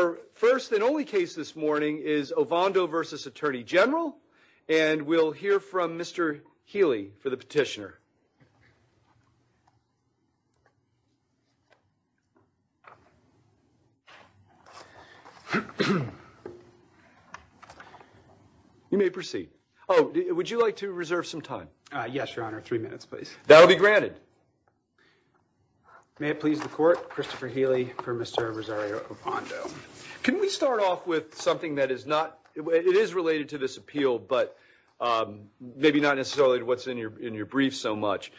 Our first and only case this morning is Ovando v. Attorney General, and we'll hear from Mr. Healy for the petitioner. You may proceed. Oh, would you like to reserve some time? Yes, Your Honor. Three minutes, please. That'll be granted. May it please the Court, Christopher Healy for Mr. Rosario Ovando. Can we start off with something that is not, it is related to this appeal, but maybe not necessarily what's in your brief so much.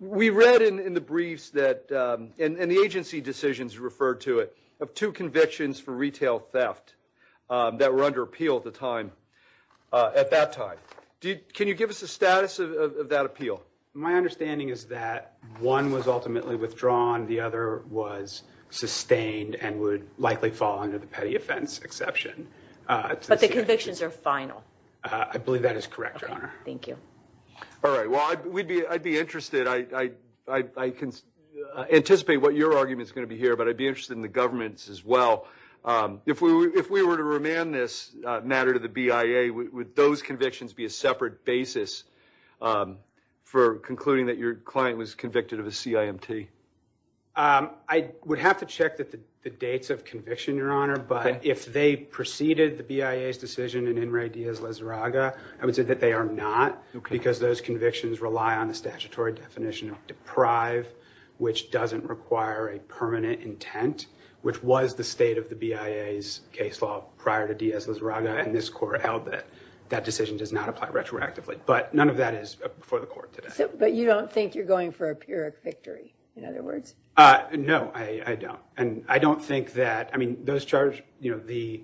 We read in the briefs that, and the agency decisions referred to it, of two convictions for retail theft that were under appeal at the time, at that time. Can you give us the status of that appeal? My understanding is that one was ultimately withdrawn, the other was sustained and would likely fall under the petty offense exception. But the convictions are final. I believe that is correct, Your Honor. Thank you. All right. Well, I'd be interested, I anticipate what your argument is going to be here, but I'd be interested in the government's as well. If we were to remand this matter to the BIA, would those convictions be a separate basis for concluding that your client was convicted of a CIMT? I would have to check the dates of conviction, Your Honor, but if they preceded the BIA's decision in In re Diaz-Lazaraga, I would say that they are not, because those convictions rely on the statutory definition of deprive, which doesn't require a permanent intent, which was the state of the BIA's case law prior to Diaz-Lazaraga, and this Court held that that decision does not apply retroactively. But none of that is before the Court today. But you don't think you're going for a pyrrhic victory, in other words? No, I don't. And I don't think that, I mean, those charges, you know, the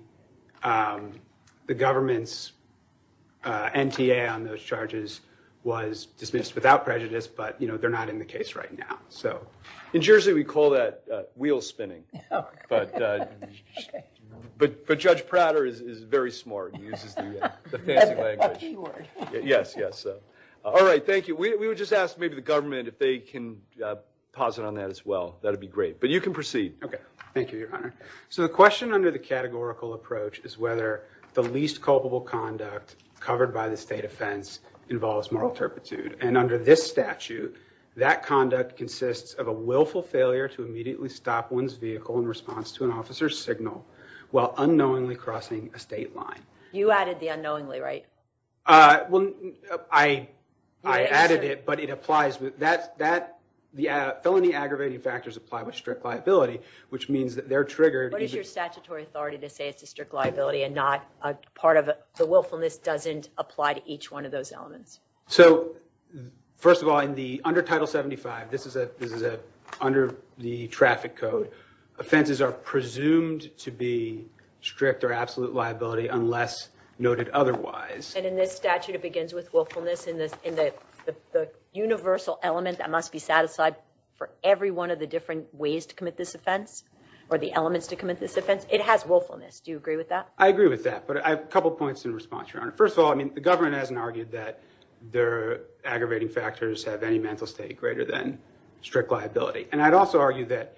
government's NTA on those charges was dismissed without prejudice, but, you know, they're not in the case right now. So in Jersey, we call that wheel-spinning, but Judge Prater is very smart, uses the fancy language. Yes, yes. All right. Thank you. We would just ask maybe the government if they can posit on that as well. That'd be great. But you can proceed. Okay. Thank you, Your Honor. So the question under the categorical approach is whether the least culpable conduct covered by the state offense involves moral turpitude. And under this statute, that conduct consists of a willful failure to immediately stop one's vehicle in response to an officer's signal while unknowingly crossing a state line. You added the unknowingly, right? Well, I added it, but it applies. The felony aggravating factors apply with strict liability, which means that they're triggered. What is your statutory authority to say it's a strict liability and not a part of the willfulness doesn't apply to each one of those elements? So first of all, under Title 75, this is under the traffic code, offenses are presumed to be strict or absolute liability unless noted otherwise. And in this statute, it begins with willfulness in the universal element that must be satisfied for every one of the different ways to commit this offense or the elements to commit this offense. It has willfulness. Do you agree with that? I agree with that. But I have a couple of points in response, Your Honor. First of all, I mean, the government hasn't argued that their aggravating factors have any mental state greater than strict liability. And I'd also argue that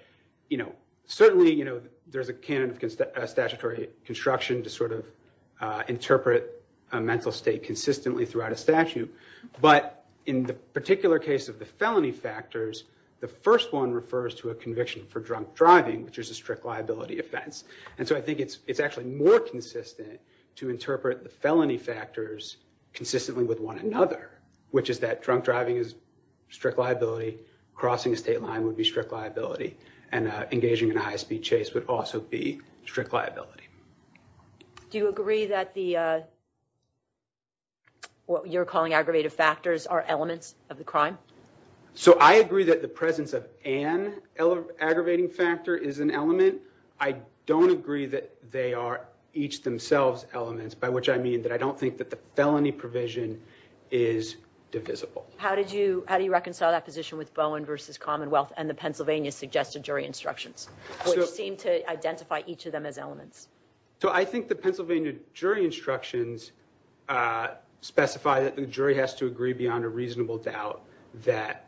certainly there's a canon of statutory construction to sort of interpret a mental state consistently throughout a statute. But in the particular case of the felony factors, the first one refers to a conviction for drunk driving, which is a strict liability offense. And so I think it's actually more consistent to interpret the felony factors consistently with one another, which is that drunk driving is strict liability. Crossing a state line would be strict liability. And engaging in a high-speed chase would also be strict liability. Do you agree that the, what you're calling aggravated factors are elements of the crime? So I agree that the presence of an aggravating factor is an element. I don't agree that they are each themselves elements, by which I mean that I don't think that the felony provision is divisible. How do you reconcile that position with Bowen versus Commonwealth and the Pennsylvania suggested jury instructions, which seem to identify each of them as elements? So I think the Pennsylvania jury instructions specify that the jury has to agree beyond a reasonable doubt that,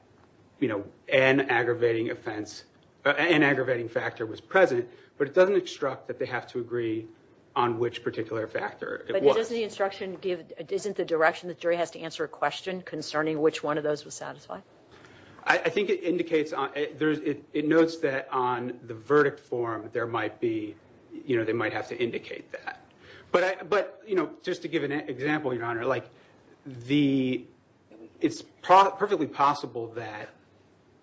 you know, an aggravating offense, an aggravating factor was present, but it doesn't instruct that they have to agree on which particular factor it was. But doesn't the instruction give, isn't the direction the jury has to answer a question concerning which one of those was satisfied? I think it indicates, it notes that on the verdict form there might be, you know, they might have to indicate that. But you know, just to give an example, Your Honor, like the, it's perfectly possible that,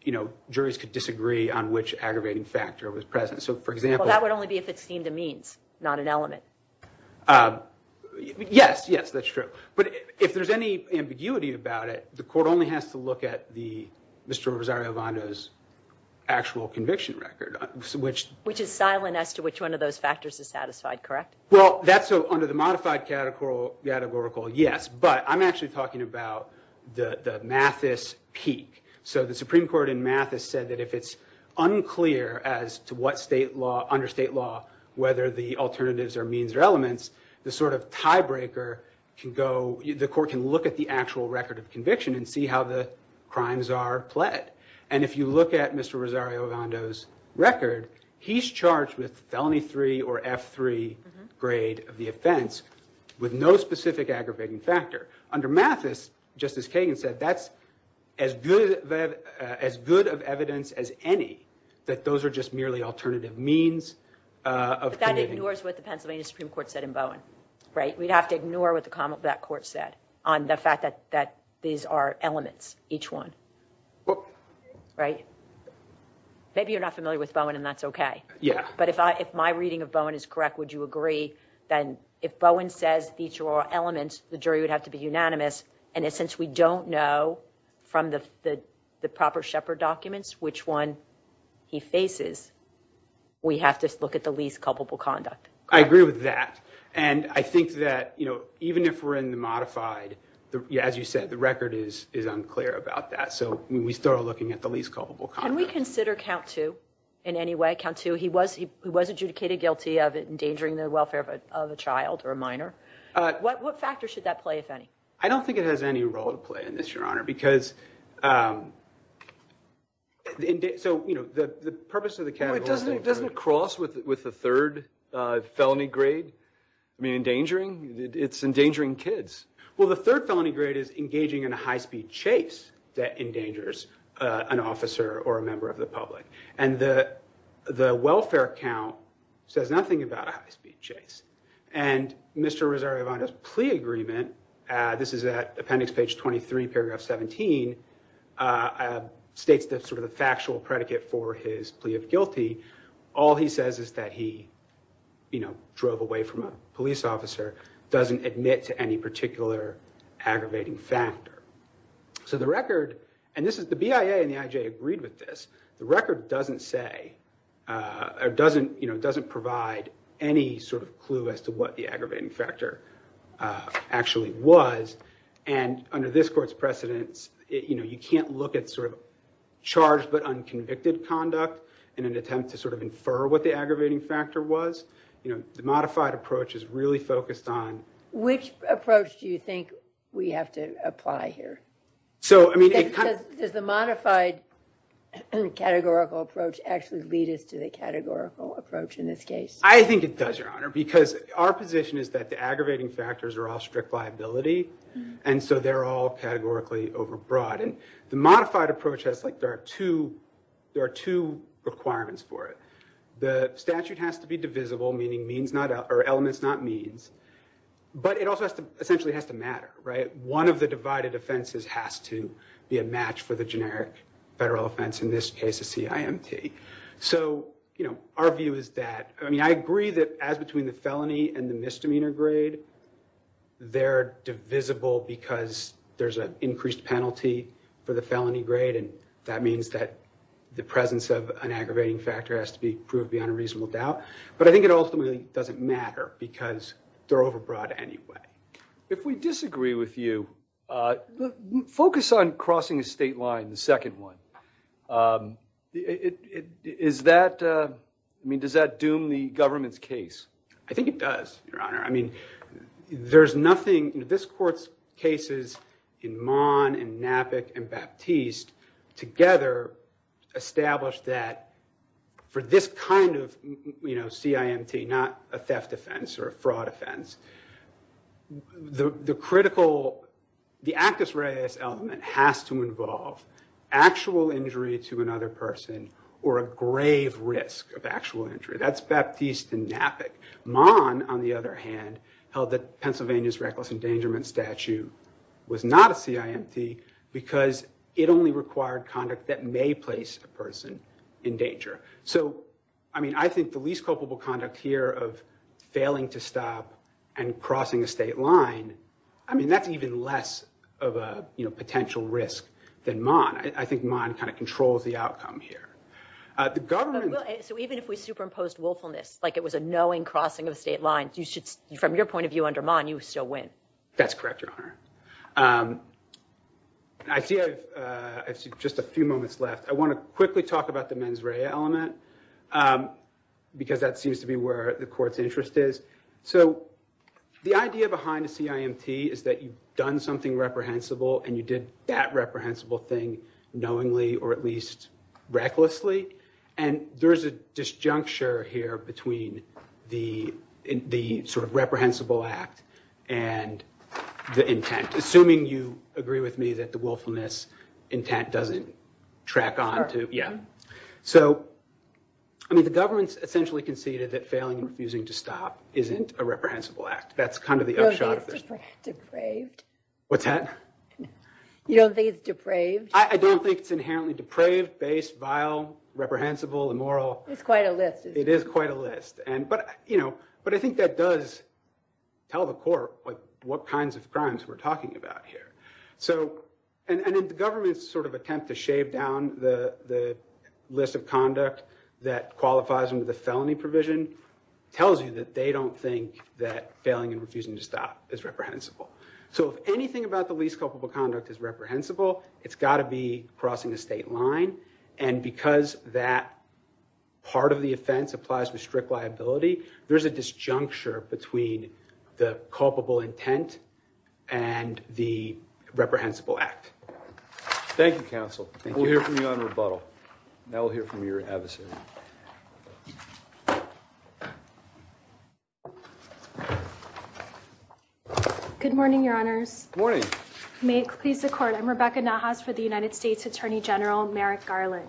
you know, juries could disagree on which aggravating factor was present. So for example- Well that would only be if it seemed a means, not an element. Yes, yes, that's true. But if there's any ambiguity about it, the court only has to look at the, Mr. Rosario Vando's actual conviction record, which- Which is silent as to which one of those factors is satisfied, correct? Well that's under the modified categorical, yes. But I'm actually talking about the Mathis peak. So the Supreme Court in Mathis said that if it's unclear as to what state law, under state law, whether the alternatives are means or elements, the sort of tiebreaker can go, the court can look at the actual record of conviction and see how the crimes are pled. And if you look at Mr. Rosario Vando's record, he's charged with felony three or F3 grade of the offense with no specific aggravating factor. Under Mathis, Justice Kagan said that's as good of evidence as any, that those are just But that ignores what the Pennsylvania Supreme Court said in Bowen, right? We'd have to ignore what the comment that court said on the fact that these are elements, each one. Right? Maybe you're not familiar with Bowen and that's okay. But if my reading of Bowen is correct, would you agree then if Bowen says each are elements, the jury would have to be unanimous. And since we don't know from the proper Shepard documents, which one he faces, we have to look at the least culpable conduct. I agree with that. And I think that even if we're in the modified, as you said, the record is unclear about that. So we start looking at the least culpable conduct. Can we consider count two in any way? Count two, he was adjudicated guilty of endangering the welfare of a child or a minor. What factor should that play, if any? I don't think it has any role to play in this, Your Honor, because so the purpose of the with the third felony grade, I mean, endangering, it's endangering kids. Well, the third felony grade is engaging in a high-speed chase that endangers an officer or a member of the public. And the welfare count says nothing about a high-speed chase. And Mr. Rosario Vanda's plea agreement, this is at appendix page 23, paragraph 17, states that sort of the factual predicate for his plea of guilty. All he says is that he drove away from a police officer, doesn't admit to any particular aggravating factor. So the record, and this is the BIA and the IJ agreed with this, the record doesn't say or doesn't provide any sort of clue as to what the aggravating factor actually was. And under this court's precedence, you can't look at sort of charged but unconvicted conduct in an attempt to sort of infer what the aggravating factor was. You know, the modified approach is really focused on... Which approach do you think we have to apply here? So I mean... Does the modified categorical approach actually lead us to the categorical approach in this case? I think it does, Your Honor, because our position is that the aggravating factors are all strict liability and so they're all categorically overbroad. And the modified approach has like there are two requirements for it. The statute has to be divisible, meaning elements not means. But it also essentially has to matter, right? One of the divided offenses has to be a match for the generic federal offense, in this case a CIMT. So our view is that... I mean, I agree that as between the felony and the misdemeanor grade, they're divisible because there's an increased penalty for the felony grade and that means that the presence of an aggravating factor has to be proved beyond a reasonable doubt. But I think it ultimately doesn't matter because they're overbroad anyway. If we disagree with you, focus on crossing a state line, the second one. Is that... I mean, does that doom the government's case? I think it does, Your Honor. I mean, there's nothing... This court's cases in Monn and Nappic and Baptiste together established that for this kind of CIMT, not a theft offense or a fraud offense, the critical... The actus reus element has to involve actual injury to another person or a grave risk of actual injury. That's Baptiste and Nappic. Monn, on the other hand, held that Pennsylvania's reckless endangerment statute was not a CIMT because it only required conduct that may place a person in danger. So I mean, I think the least culpable conduct here of failing to stop and crossing a state line, I mean, that's even less of a potential risk than Monn. I think Monn kind of controls the outcome here. The government... If you fail to stop and cross a state line, from your point of view under Monn, you still win. That's correct, Your Honor. I see I have just a few moments left. I want to quickly talk about the mens rea element because that seems to be where the court's interest is. So the idea behind a CIMT is that you've done something reprehensible and you did that reprehensible thing knowingly or at least recklessly. And there's a disjuncture here between the sort of reprehensible act and the intent. Assuming you agree with me that the willfulness intent doesn't track on to, yeah. So I mean, the government's essentially conceded that failing and refusing to stop isn't a reprehensible act. That's kind of the upshot of this. You don't think it's depraved? What's that? You don't think it's depraved? I don't think it's inherently depraved, base, vile, reprehensible, immoral. It's quite a list. It is quite a list. But I think that does tell the court what kinds of crimes we're talking about here. So and the government's sort of attempt to shave down the list of conduct that qualifies under the felony provision tells you that they don't think that failing and refusing to stop is reprehensible. So if anything about the least culpable conduct is reprehensible, it's got to be crossing a state line. And because that part of the offense applies with strict liability, there's a disjuncture between the culpable intent and the reprehensible act. Thank you, counsel. Thank you. We'll hear from you on rebuttal. Now we'll hear from your advocate. Good morning, your honors. Good morning. May it please the court, I'm Rebecca Nahas for the United States Attorney General Merrick Garland.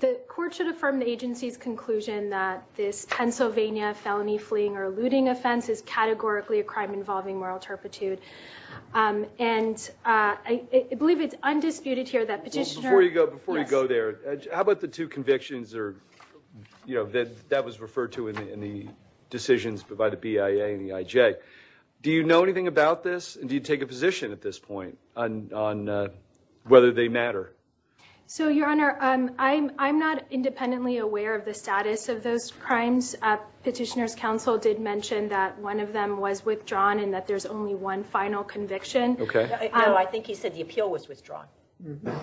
The court should affirm the agency's conclusion that this Pennsylvania felony fleeing or looting offense is categorically a crime involving moral turpitude. Before you go there, how about the two convictions that was referred to in the decisions by the BIA and the IJ. Do you know anything about this? And do you take a position at this point on whether they matter? So your honor, I'm not independently aware of the status of those crimes. Petitioners counsel did mention that one of them was withdrawn and that there's only one final conviction. No, I think he said the appeal was withdrawn.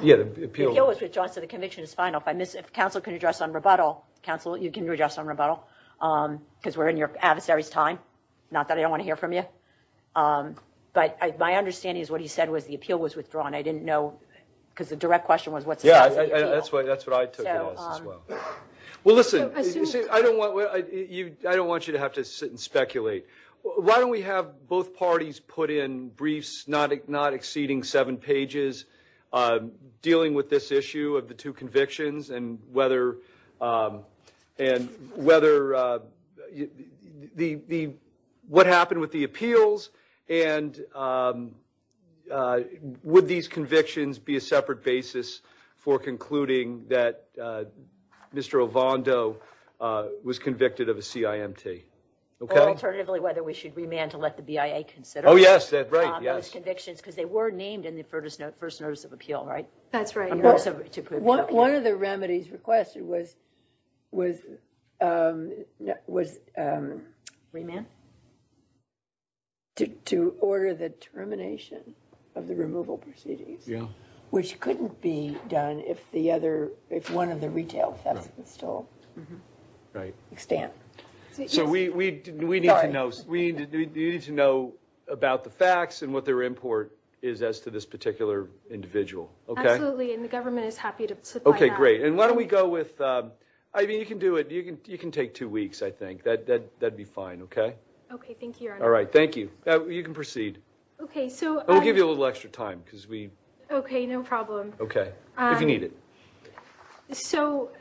Yeah, the appeal was withdrawn. So the conviction is final. If counsel can address on rebuttal, counsel, you can address on rebuttal because we're in your adversary's time. Not that I don't want to hear from you, but my understanding is what he said was the appeal was withdrawn. I didn't know because the direct question was what's the status of the appeal. Yeah, that's what I took from this as well. Well, listen, I don't want you to have to sit and speculate. Why don't we have both parties put in briefs not exceeding seven pages dealing with this issue of the two convictions and what happened with the appeals and would these convictions be a separate basis for concluding that Mr. Ovando was convicted of a CIMT? Alternatively, whether we should remand to let the BIA consider those convictions because they were named in the first notice of appeal, right? That's right. One of the remedies requested was to order the termination of the removal proceedings, which couldn't be done if one of the retail thefts was still extant. So we need to know about the facts and what their import is as to this particular individual. Absolutely. And the government is happy to supply that. Okay, great. And why don't we go with... I mean, you can do it. You can take two weeks, I think. That'd be fine. Okay? Okay. Thank you, Your Honor. All right. Thank you. You can proceed. Okay, so... I'll give you a little extra time because we... Okay, no problem. Okay. If you need it. So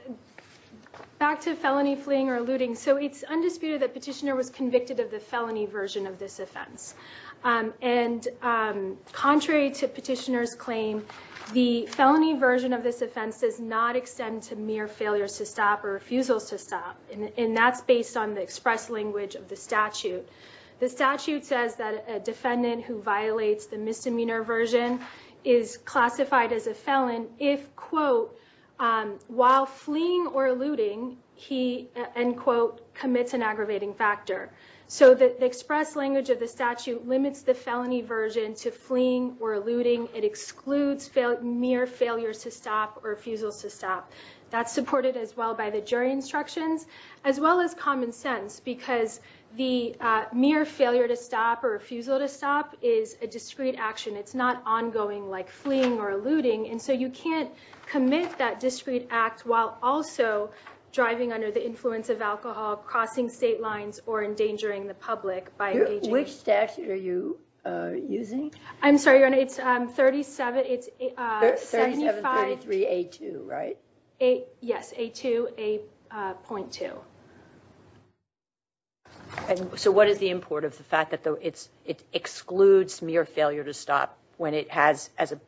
back to felony fleeing or looting. So it's undisputed that Petitioner was convicted of the felony version of this offense. And contrary to Petitioner's claim, the felony version of this offense does not extend to mere failures to stop or refusals to stop. And that's based on the express language of the statute. The statute says that a defendant who violates the misdemeanor version is classified as a While fleeing or looting, he, end quote, commits an aggravating factor. So the express language of the statute limits the felony version to fleeing or looting. It excludes mere failures to stop or refusals to stop. That's supported as well by the jury instructions, as well as common sense. Because the mere failure to stop or refusal to stop is a discreet action. It's not ongoing, like fleeing or looting. And so you can't commit that discreet act while also driving under the influence of alcohol, crossing state lines, or endangering the public by engaging. Which statute are you using? I'm sorry. It's 37. It's 75. 3733A2, right? Yes. A2. A.2. And so what is the import of the fact that it excludes mere failure to stop when it has as a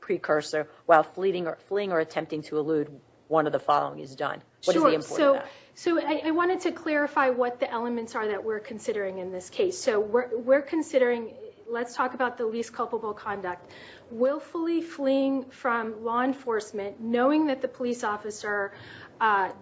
precursor, while fleeing or attempting to elude one of the following is done? Sure. What is the import of that? So I wanted to clarify what the elements are that we're considering in this case. So we're considering, let's talk about the least culpable conduct, willfully fleeing from law enforcement, knowing that the police officer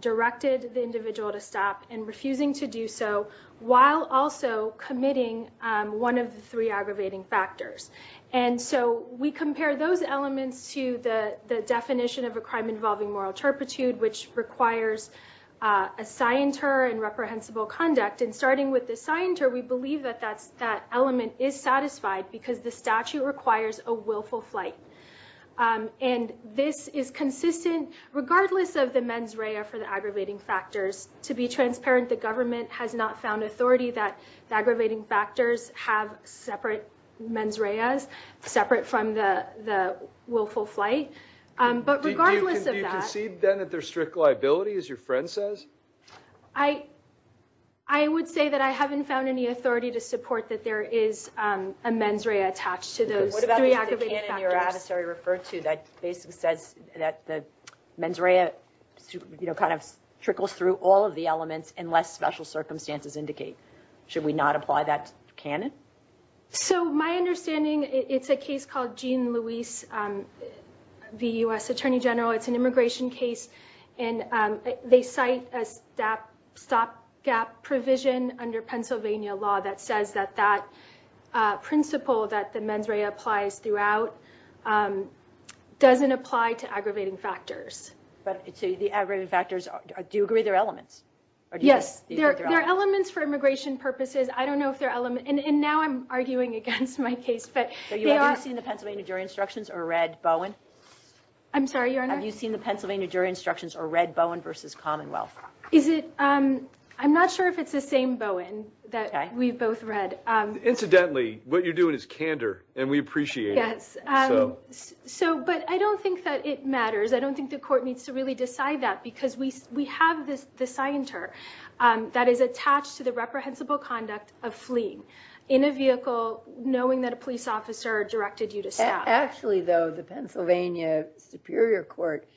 directed the individual to stop and refusing to do so, while also committing one of the three aggravating factors. And so we compare those elements to the definition of a crime involving moral turpitude, which requires a scienter and reprehensible conduct. And starting with the scienter, we believe that that element is satisfied because the statute requires a willful flight. And this is consistent regardless of the mens rea for the aggravating factors. To be transparent, the government has not found authority that the aggravating factors have separate mens reas, separate from the willful flight. But regardless of that- Do you concede then that there's strict liability, as your friend says? I would say that I haven't found any authority to support that there is a mens rea attached to those three aggravating factors. What about the canon your adversary referred to that basically says that the mens rea trickles through all of the elements unless special circumstances indicate. Should we not apply that canon? So my understanding, it's a case called Jean-Louis v. U.S. Attorney General. It's an immigration case, and they cite a stopgap provision under Pennsylvania law that says that that principle that the mens rea applies throughout doesn't apply to aggravating factors. But the aggravating factors, do you agree they're elements? Yes. They're elements for immigration purposes. I don't know if they're elements. And now I'm arguing against my case. But they are- Have you seen the Pennsylvania jury instructions or read Bowen? I'm sorry, Your Honor? Have you seen the Pennsylvania jury instructions or read Bowen v. Commonwealth? I'm not sure if it's the same Bowen that we've both read. Incidentally, what you're doing is candor, and we appreciate it. But I don't think that it matters. I don't think the court needs to really decide that, because we have the scienter that is attached to the reprehensible conduct of fleeing in a vehicle, knowing that a police officer directed you to stop. Actually, though, the Pennsylvania Superior Court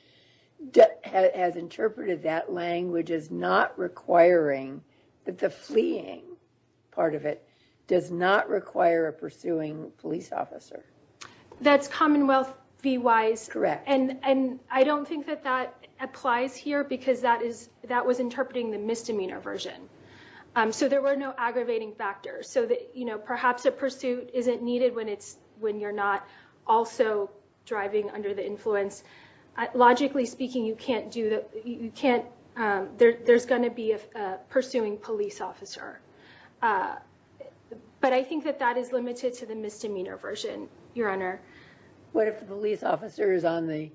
has interpreted that language as not requiring, that the fleeing part of it does not require a pursuing police officer. That's Commonwealth v. Wise? Correct. I don't think that that applies here, because that was interpreting the misdemeanor version. So there were no aggravating factors. So perhaps a pursuit isn't needed when you're not also driving under the influence. Logically speaking, there's going to be a pursuing police officer. But I think that that is limited to the misdemeanor version, Your Honor. What if the police officer is on the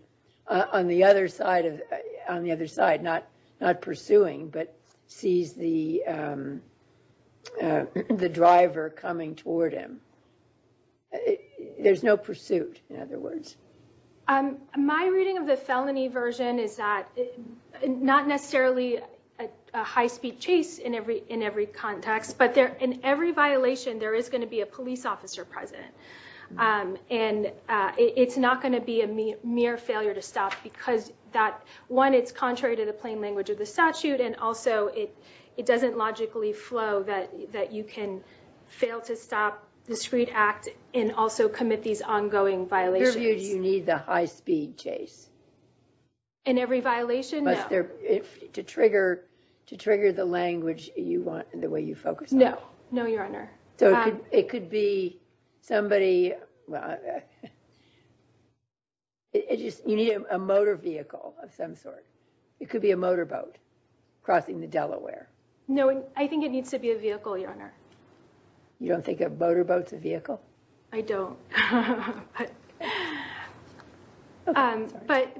other side, not pursuing, but sees the driver coming toward him? There's no pursuit, in other words. My reading of the felony version is that not necessarily a high-speed chase in every context, but in every violation, there is going to be a police officer present. It's not going to be a mere failure to stop, because one, it's contrary to the plain language of the statute, and also it doesn't logically flow that you can fail to stop, discreet act, and also commit these ongoing violations. In your view, do you need the high-speed chase? In every violation, no. To trigger the language you want and the way you focus on it? No, no, Your Honor. So it could be somebody, well, you need a motor vehicle of some sort. It could be a motorboat crossing the Delaware. No, I think it needs to be a vehicle, Your Honor. You don't think a motorboat's a vehicle? I don't. But,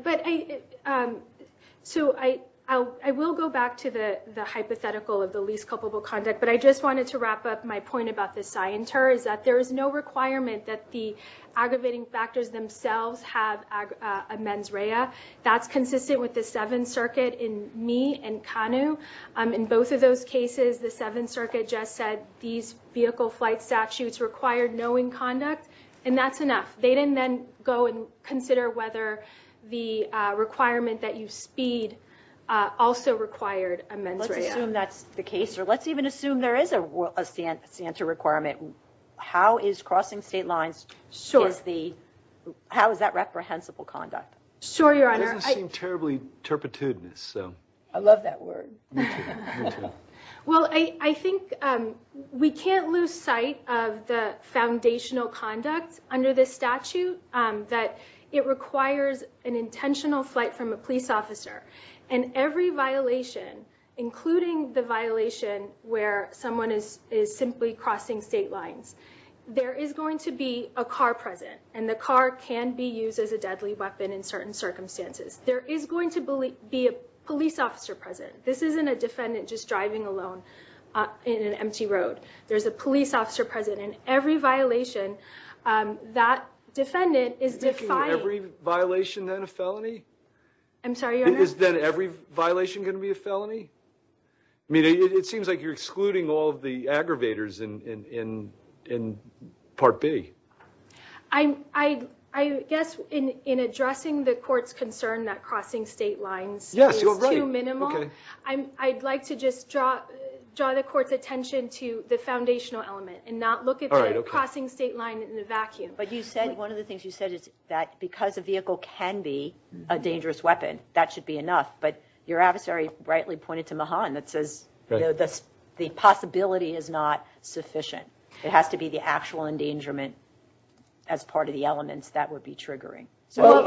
so I will go back to the hypothetical of the least culpable conduct, but I just wanted to wrap up my point about the scienter, is that there is no requirement that the aggravating factors themselves have amends REIA. That's consistent with the Seventh Circuit in me and Kanu. In both of those cases, the Seventh Circuit just said these vehicle flight statutes required knowing conduct, and that's enough. They didn't then go and consider whether the requirement that you speed also required amends REIA. Let's assume that's the case, or let's even assume there is a scienter requirement. How is crossing state lines, how is that reprehensible conduct? Sure, Your Honor. It doesn't seem terribly turpitude-ness, so. I love that word. Me too, me too. Well, I think we can't lose sight of the foundational conduct under this statute, that it requires an intentional flight from a police officer. And every violation, including the violation where someone is simply crossing state lines, there is going to be a car present, and the car can be used as a deadly weapon in certain circumstances. There is going to be a police officer present. This isn't a defendant just driving alone in an empty road. There's a police officer present in every violation. That defendant is defying- Is every violation then a felony? I'm sorry, Your Honor? Is then every violation going to be a felony? I mean, it seems like you're excluding all of the aggravators in Part B. I guess in addressing the court's concern that crossing state lines- Yes, you're right. I'd like to just draw the court's attention to the foundational element, and not look at the crossing state line in the vacuum. But you said, one of the things you said is that because a vehicle can be a dangerous weapon, that should be enough. But your adversary rightly pointed to Mahan that says the possibility is not sufficient. It has to be the actual endangerment as part of the elements that would be triggering. Well,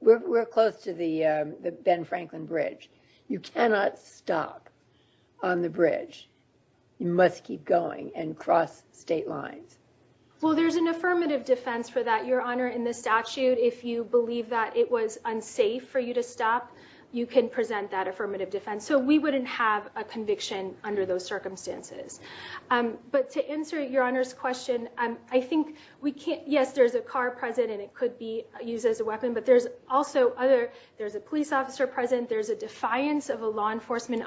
we're close to the Ben Franklin Bridge. You cannot stop on the bridge. You must keep going and cross state lines. Well, there's an affirmative defense for that, Your Honor. In the statute, if you believe that it was unsafe for you to stop, you can present that affirmative defense. So we wouldn't have a conviction under those circumstances. But to answer Your Honor's question, I think we can't- There's a car present, and it could be used as a weapon. But there's also other- there's a police officer present. There's a defiance of a law enforcement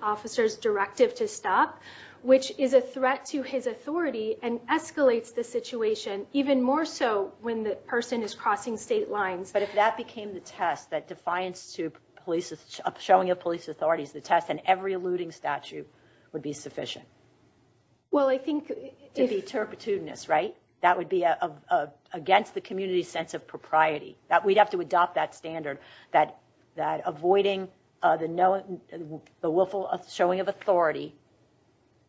officer's directive to stop, which is a threat to his authority and escalates the situation, even more so when the person is crossing state lines. But if that became the test, that defiance to police, showing a police authority is the test, then every alluding statute would be sufficient. Well, I think- To be turpitudinous, right? That would be against the community's sense of propriety. That we'd have to adopt that standard. That avoiding the willful showing of authority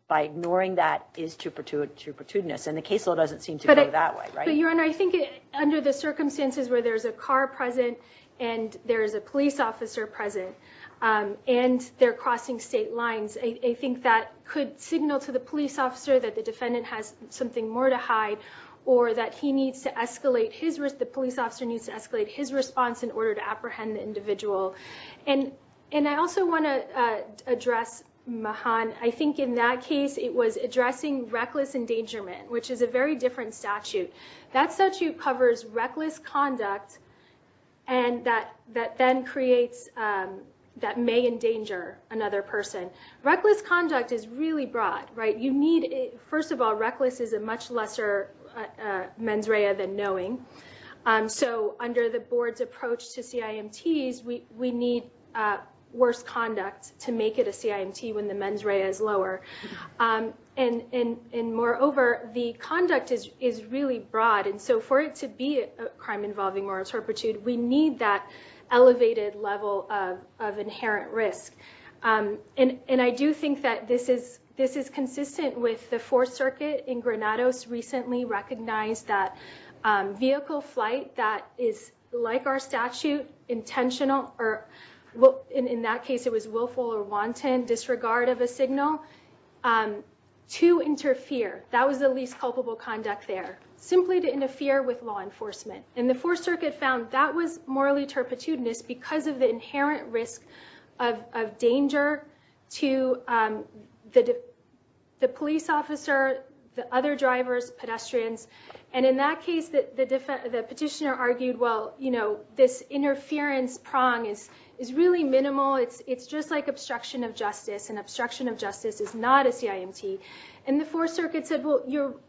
by ignoring that is too turpitudinous. And the case law doesn't seem to go that way, right? But Your Honor, I think under the circumstances where there's a car present and there's a police officer present and they're crossing state lines, I think that could signal to the police officer that the defendant has something more to hide or that he needs to escalate his- the police officer needs to escalate his response in order to apprehend the individual. And I also want to address, Mahan, I think in that case it was addressing reckless endangerment, which is a very different statute. That statute covers reckless conduct and that then creates- that may endanger another person. Reckless conduct is really broad, right? You need- first of all, reckless is a much lesser mens rea than knowing. So under the board's approach to CIMTs, we need worse conduct to make it a CIMT when the mens rea is lower. And moreover, the conduct is really broad. And so for it to be a crime involving moral turpitude, we need that elevated level of inherent risk. And I do think that this is consistent with the Fourth Circuit in Granados recently recognized that vehicle flight that is like our statute, intentional, or in that case, it was willful or wanton disregard of a signal to interfere. That was the least culpable conduct there, simply to interfere with law enforcement. And the Fourth Circuit found that was morally turpitudinous because of the inherent risk of danger to the police officer, the other drivers, pedestrians. And in that case, the petitioner argued, well, you know, this interference prong is really minimal. It's just like obstruction of justice, and obstruction of justice is not a CIMT. And the Fourth Circuit said, well,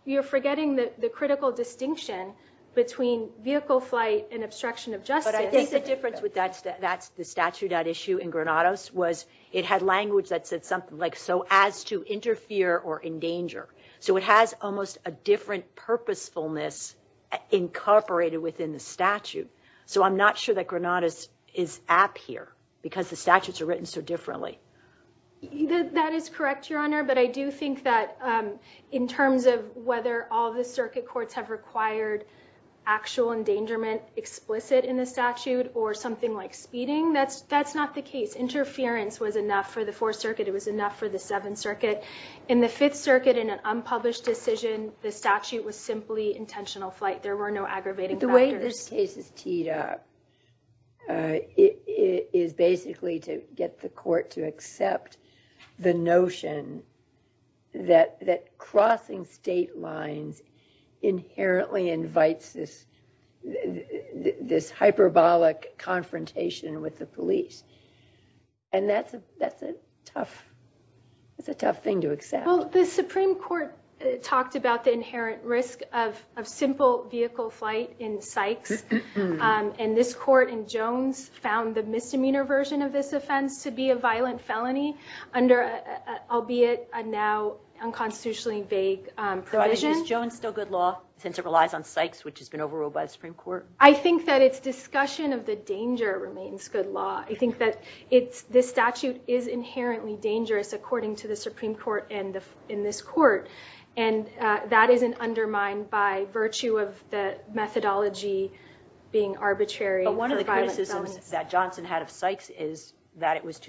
you're forgetting the critical distinction between vehicle flight and obstruction of justice. But I think the difference with that's the statute that issue in Granados was it had language that said something like, so as to interfere or endanger. So it has almost a different purposefulness incorporated within the statute. So I'm not sure that Granados is apt here because the statutes are written so differently. That is correct, Your Honor. But I do think that in terms of whether all the circuit courts have required actual endangerment explicit in the statute or something like speeding, that's not the case. Interference was enough for the Fourth Circuit. It was enough for the Seventh Circuit. In the Fifth Circuit, in an unpublished decision, the statute was simply intentional flight. There were no aggravating factors. The way this case is teed up is basically to get the court to accept the notion that crossing state lines inherently invites this hyperbolic confrontation with the police. And that's a tough thing to accept. Well, the Supreme Court talked about the inherent risk of simple vehicle flight in Sykes. And this court in Jones found the misdemeanor version of this offense to be a violent felony, albeit a now unconstitutionally vague provision. So is Jones still good law since it relies on Sykes, which has been overruled by the Supreme Court? I think that its discussion of the danger remains good law. I think that this statute is inherently dangerous, according to the Supreme Court and in this court. And that isn't undermined by virtue of the methodology being arbitrary. But one of the criticisms that Johnson had of Sykes is that it was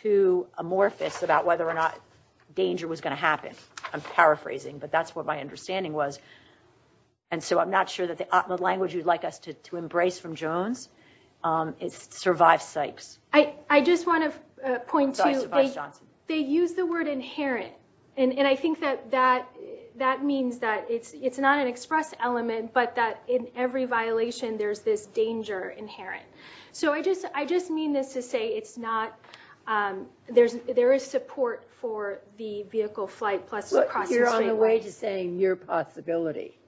too amorphous about whether or not danger was going to happen. I'm paraphrasing, but that's what my understanding was. And so I'm not sure that the language you'd like us to embrace from Jones is to survive Sykes. I just want to point to they use the word inherent. And I think that that means that it's not an express element, but that in every violation, there's this danger inherent. So I just mean this to say it's not, there is support for the vehicle flight plus the crossing straight line. You're on the way to saying your possibility.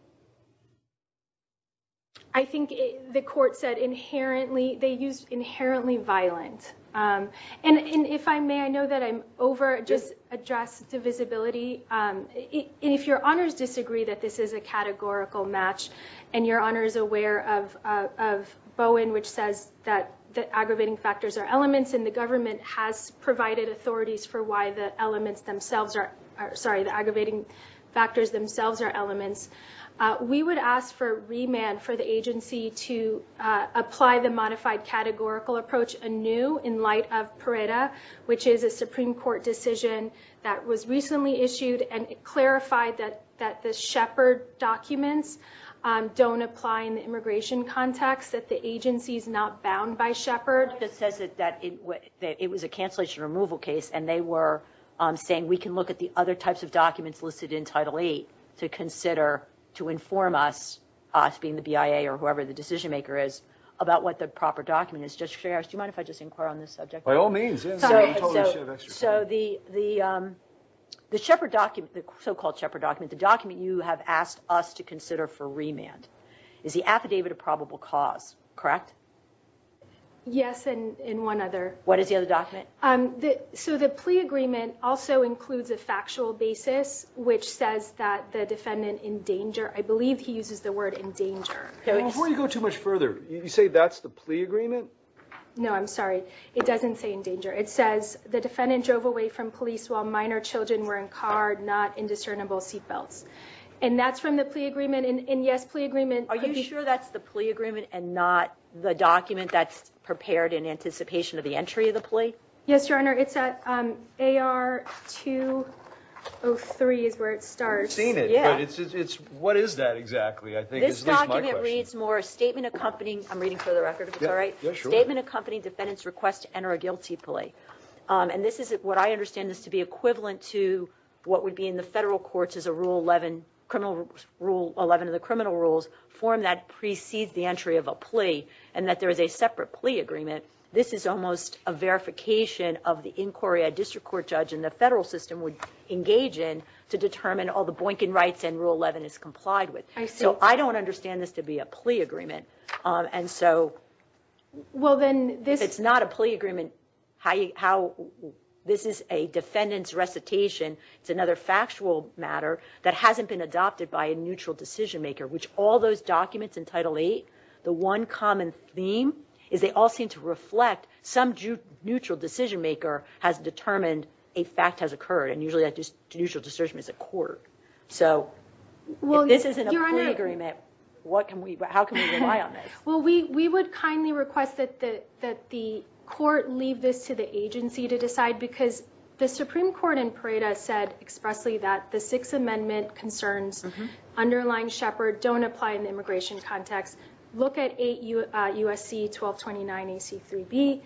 I think the court said inherently, they used inherently violent. And if I may, I know that I'm over, just address divisibility. If your honors disagree that this is a categorical match, and your honor is aware of Bowen, which says that aggravating factors are elements, and the government has provided authorities for why the aggravating factors themselves are elements, we would ask for remand for the agency to apply the modified categorical approach anew in light of PARETA, which is a Supreme Court decision that was recently issued, and it clarified that the Shepard documents don't apply in the immigration context, that the agency is not bound by Shepard. It says that it was a cancellation removal case, and they were saying we can look at the other types of documents listed in Title VIII to consider, to inform us, us being the BIA or whoever the decision maker is, about what the proper document is. Justice Gerrard, do you mind if I just inquire on this subject? By all means. So the Shepard document, the so-called Shepard document, the document you have asked us to consider for remand, is the affidavit a probable cause, correct? Yes, and one other. What is the other document? So the plea agreement also includes a factual basis, which says that the defendant in danger, I believe he uses the word in danger. Before you go too much further, you say that's the plea agreement? No, I'm sorry. It doesn't say in danger. It says the defendant drove away from police while minor children were in car, not in discernible seatbelts. And that's from the plea agreement, and yes, plea agreement. Are you sure that's the plea agreement and not the document that's prepared in anticipation of the entry of the plea? Yes, Your Honor, it's at AR 203 is where it starts. We've seen it, but what is that exactly? This document reads more a statement accompanying... I'm reading for the record, if it's all right. Statement accompanying defendant's request to enter a guilty plea. And this is what I understand this to be equivalent to what would be in the federal courts as a Rule 11 of the criminal rules form that precedes the entry of a plea, and that there is a separate plea agreement. This is almost a verification of the inquiry a district court judge in the federal system would engage in to determine all the Boykin rights and Rule 11 is complied with. So I don't understand this to be a plea agreement. And so... Well, then this... If it's not a plea agreement, how... This is a defendant's recitation. It's another factual matter that hasn't been adopted by a neutral decision maker, which all those documents in Title VIII, the one common theme is they all seem to reflect some neutral decision maker has determined a fact has occurred. And usually that neutral decision is a court. So, if this is a plea agreement, how can we rely on this? Well, we would kindly request that the court leave this to the agency to decide because the Supreme Court in Pareto said expressly that the Sixth Amendment concerns underlying Shepherd don't apply in the immigration context. Look at 8 U.S.C. 1229 AC3B.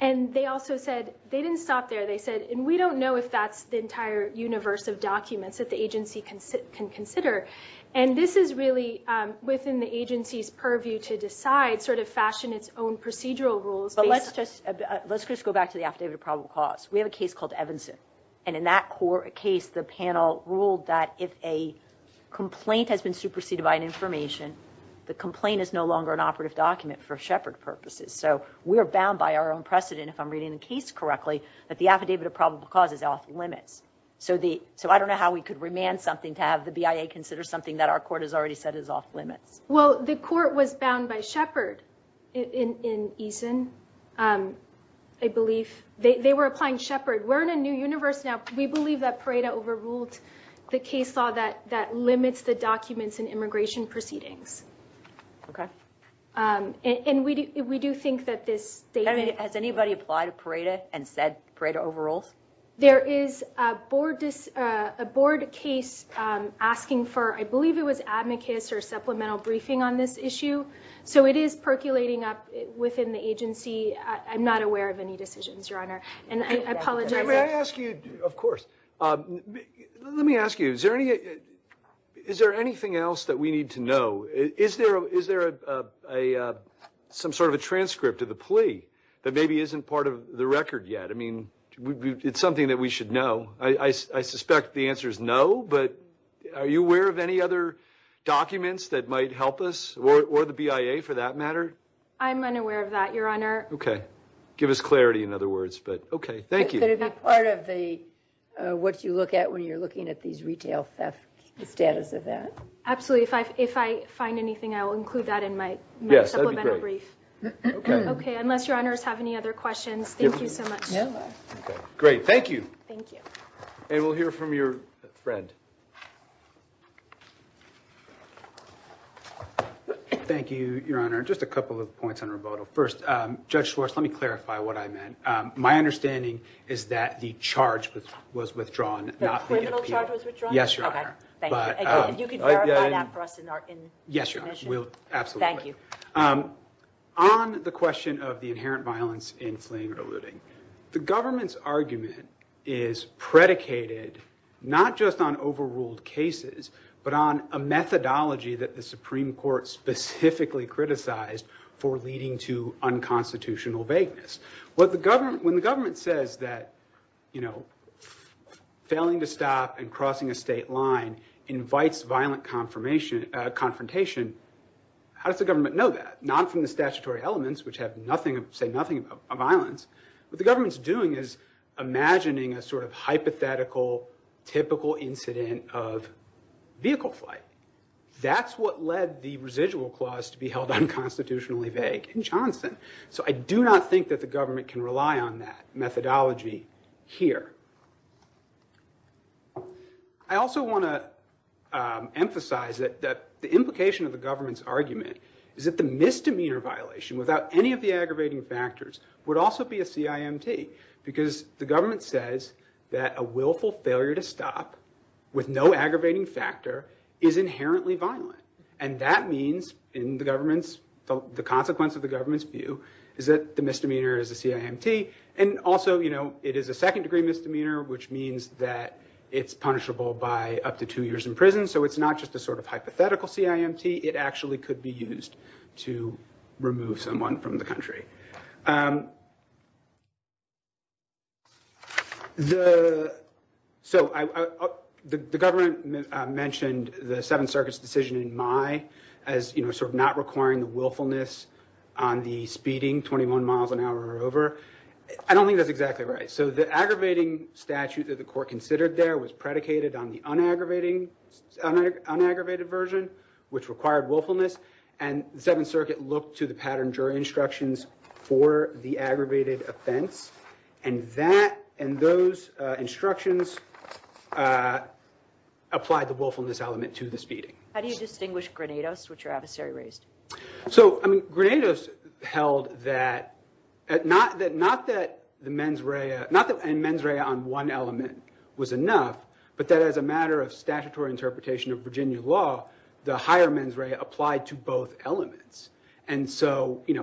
And they also said, they didn't stop there. They said, and we don't know if that's the entire universe of documents that the agency can consider. And this is really within the agency's purview to decide, sort of fashion its own procedural rules. But let's just go back to the affidavit of probable cause. We have a case called Evanson. And in that case, the panel ruled that if a complaint has been superseded by an information, the complaint is no longer an operative document for Shepherd purposes. So, we're bound by our own precedent, if I'm reading the case correctly, that the affidavit of probable cause is off limits. So, I don't know how we could remand something to have the BIA consider something that our court has already said is off limits. Well, the court was bound by Shepherd in Eason, I believe. They were applying Shepherd. We're in a new universe now. We believe that Pareto overruled the case law that limits the documents in immigration proceedings. Okay. And we do think that this statement... Has anybody applied to Pareto and said Pareto overrules? There is a board case asking for, I believe it was amicus or supplemental briefing on this issue. So, it is percolating up within the agency. I'm not aware of any decisions, Your Honor. And I apologize. May I ask you, of course, let me ask you, is there anything else that we need to know? Is there some sort of a transcript of the plea that maybe isn't part of the record yet? I mean, it's something that we should know. I suspect the answer is no, but are you aware of any other documents that might help us or the BIA for that matter? I'm unaware of that, Your Honor. Okay. Give us clarity, in other words. But, okay. Thank you. Could it be part of what you look at when you're looking at these retail theft status of that? Absolutely. If I find anything, I will include that in my supplemental brief. Okay. Unless Your Honors have any other questions. Thank you so much. Great. Thank you. Thank you. And we'll hear from your friend. Thank you, Your Honor. Just a couple of points on Roboto. First, Judge Schwartz, let me clarify what I meant. My understanding is that the charge was withdrawn, not the appeal. The criminal charge was withdrawn? Yes, Your Honor. Okay. Thank you. And you can verify that for us in our submission? Yes, Your Honor. Absolutely. Thank you. On the question of the inherent violence in fleeing or looting, the government's argument is predicated not just on overruled cases, but on a methodology that the Supreme Court specifically criticized for leading to unconstitutional vagueness. When the government says that, you know, failing to stop and crossing a state line invites violent confrontation, how does the government know that? Not from the statutory elements, which say nothing about violence. What the government's doing is imagining a sort of hypothetical, typical incident of vehicle flight. That's what led the residual clause to be held unconstitutionally vague in Johnson. So I do not think that the government can rely on that methodology here. I also want to emphasize that the implication of the government's argument is that the misdemeanor violation without any of the aggravating factors would also be a CIMT. Because the government says that a willful failure to stop with no aggravating factor is inherently violent. And that means in the government's, the consequence of the government's view is that the misdemeanor is a CIMT. And also, you know, it is a second degree misdemeanor which means that it's punishable by up to two years in prison. So it's not just a sort of hypothetical CIMT, it actually could be used to remove someone from the country. So the government mentioned the Seventh Circuit's decision in May as sort of not requiring the willfulness on the speeding 21 miles an hour or over. I don't think that's exactly right. So the aggravating statute that the court considered there was predicated on the unaggravated version, which required willfulness. And the Seventh Circuit looked to the pattern jury instructions for the aggravated offense. And that, and those instructions applied the willfulness element to the speeding. How do you distinguish Grenados, which your adversary raised? So, I mean, Grenados held that, not that the mens rea, not that a mens rea on one element was enough, but that as a matter of statutory interpretation of Virginia law, the higher mens rea applied to both elements. And so, you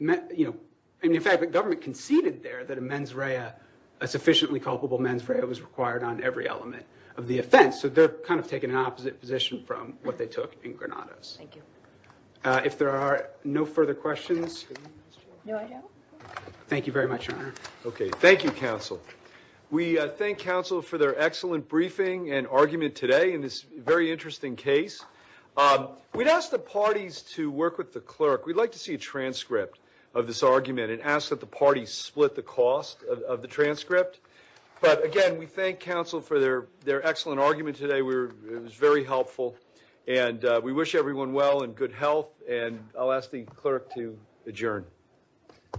know, and in fact the government conceded there that a mens rea, a sufficiently culpable mens rea was required on every element of the offense. So they're kind of taking an opposite position from what they took in Grenados. Thank you. If there are no further questions. No, I don't. Thank you very much, Your Honor. Okay, thank you, counsel. We thank counsel for their excellent briefing and argument today in this very interesting case. We'd ask the parties to work with the clerk. We'd like to see a transcript of this argument and ask that the parties split the cost of the transcript. But again, we thank counsel for their excellent argument today. We were, it was very helpful and we wish everyone well and good health. And I'll ask the clerk to adjourn.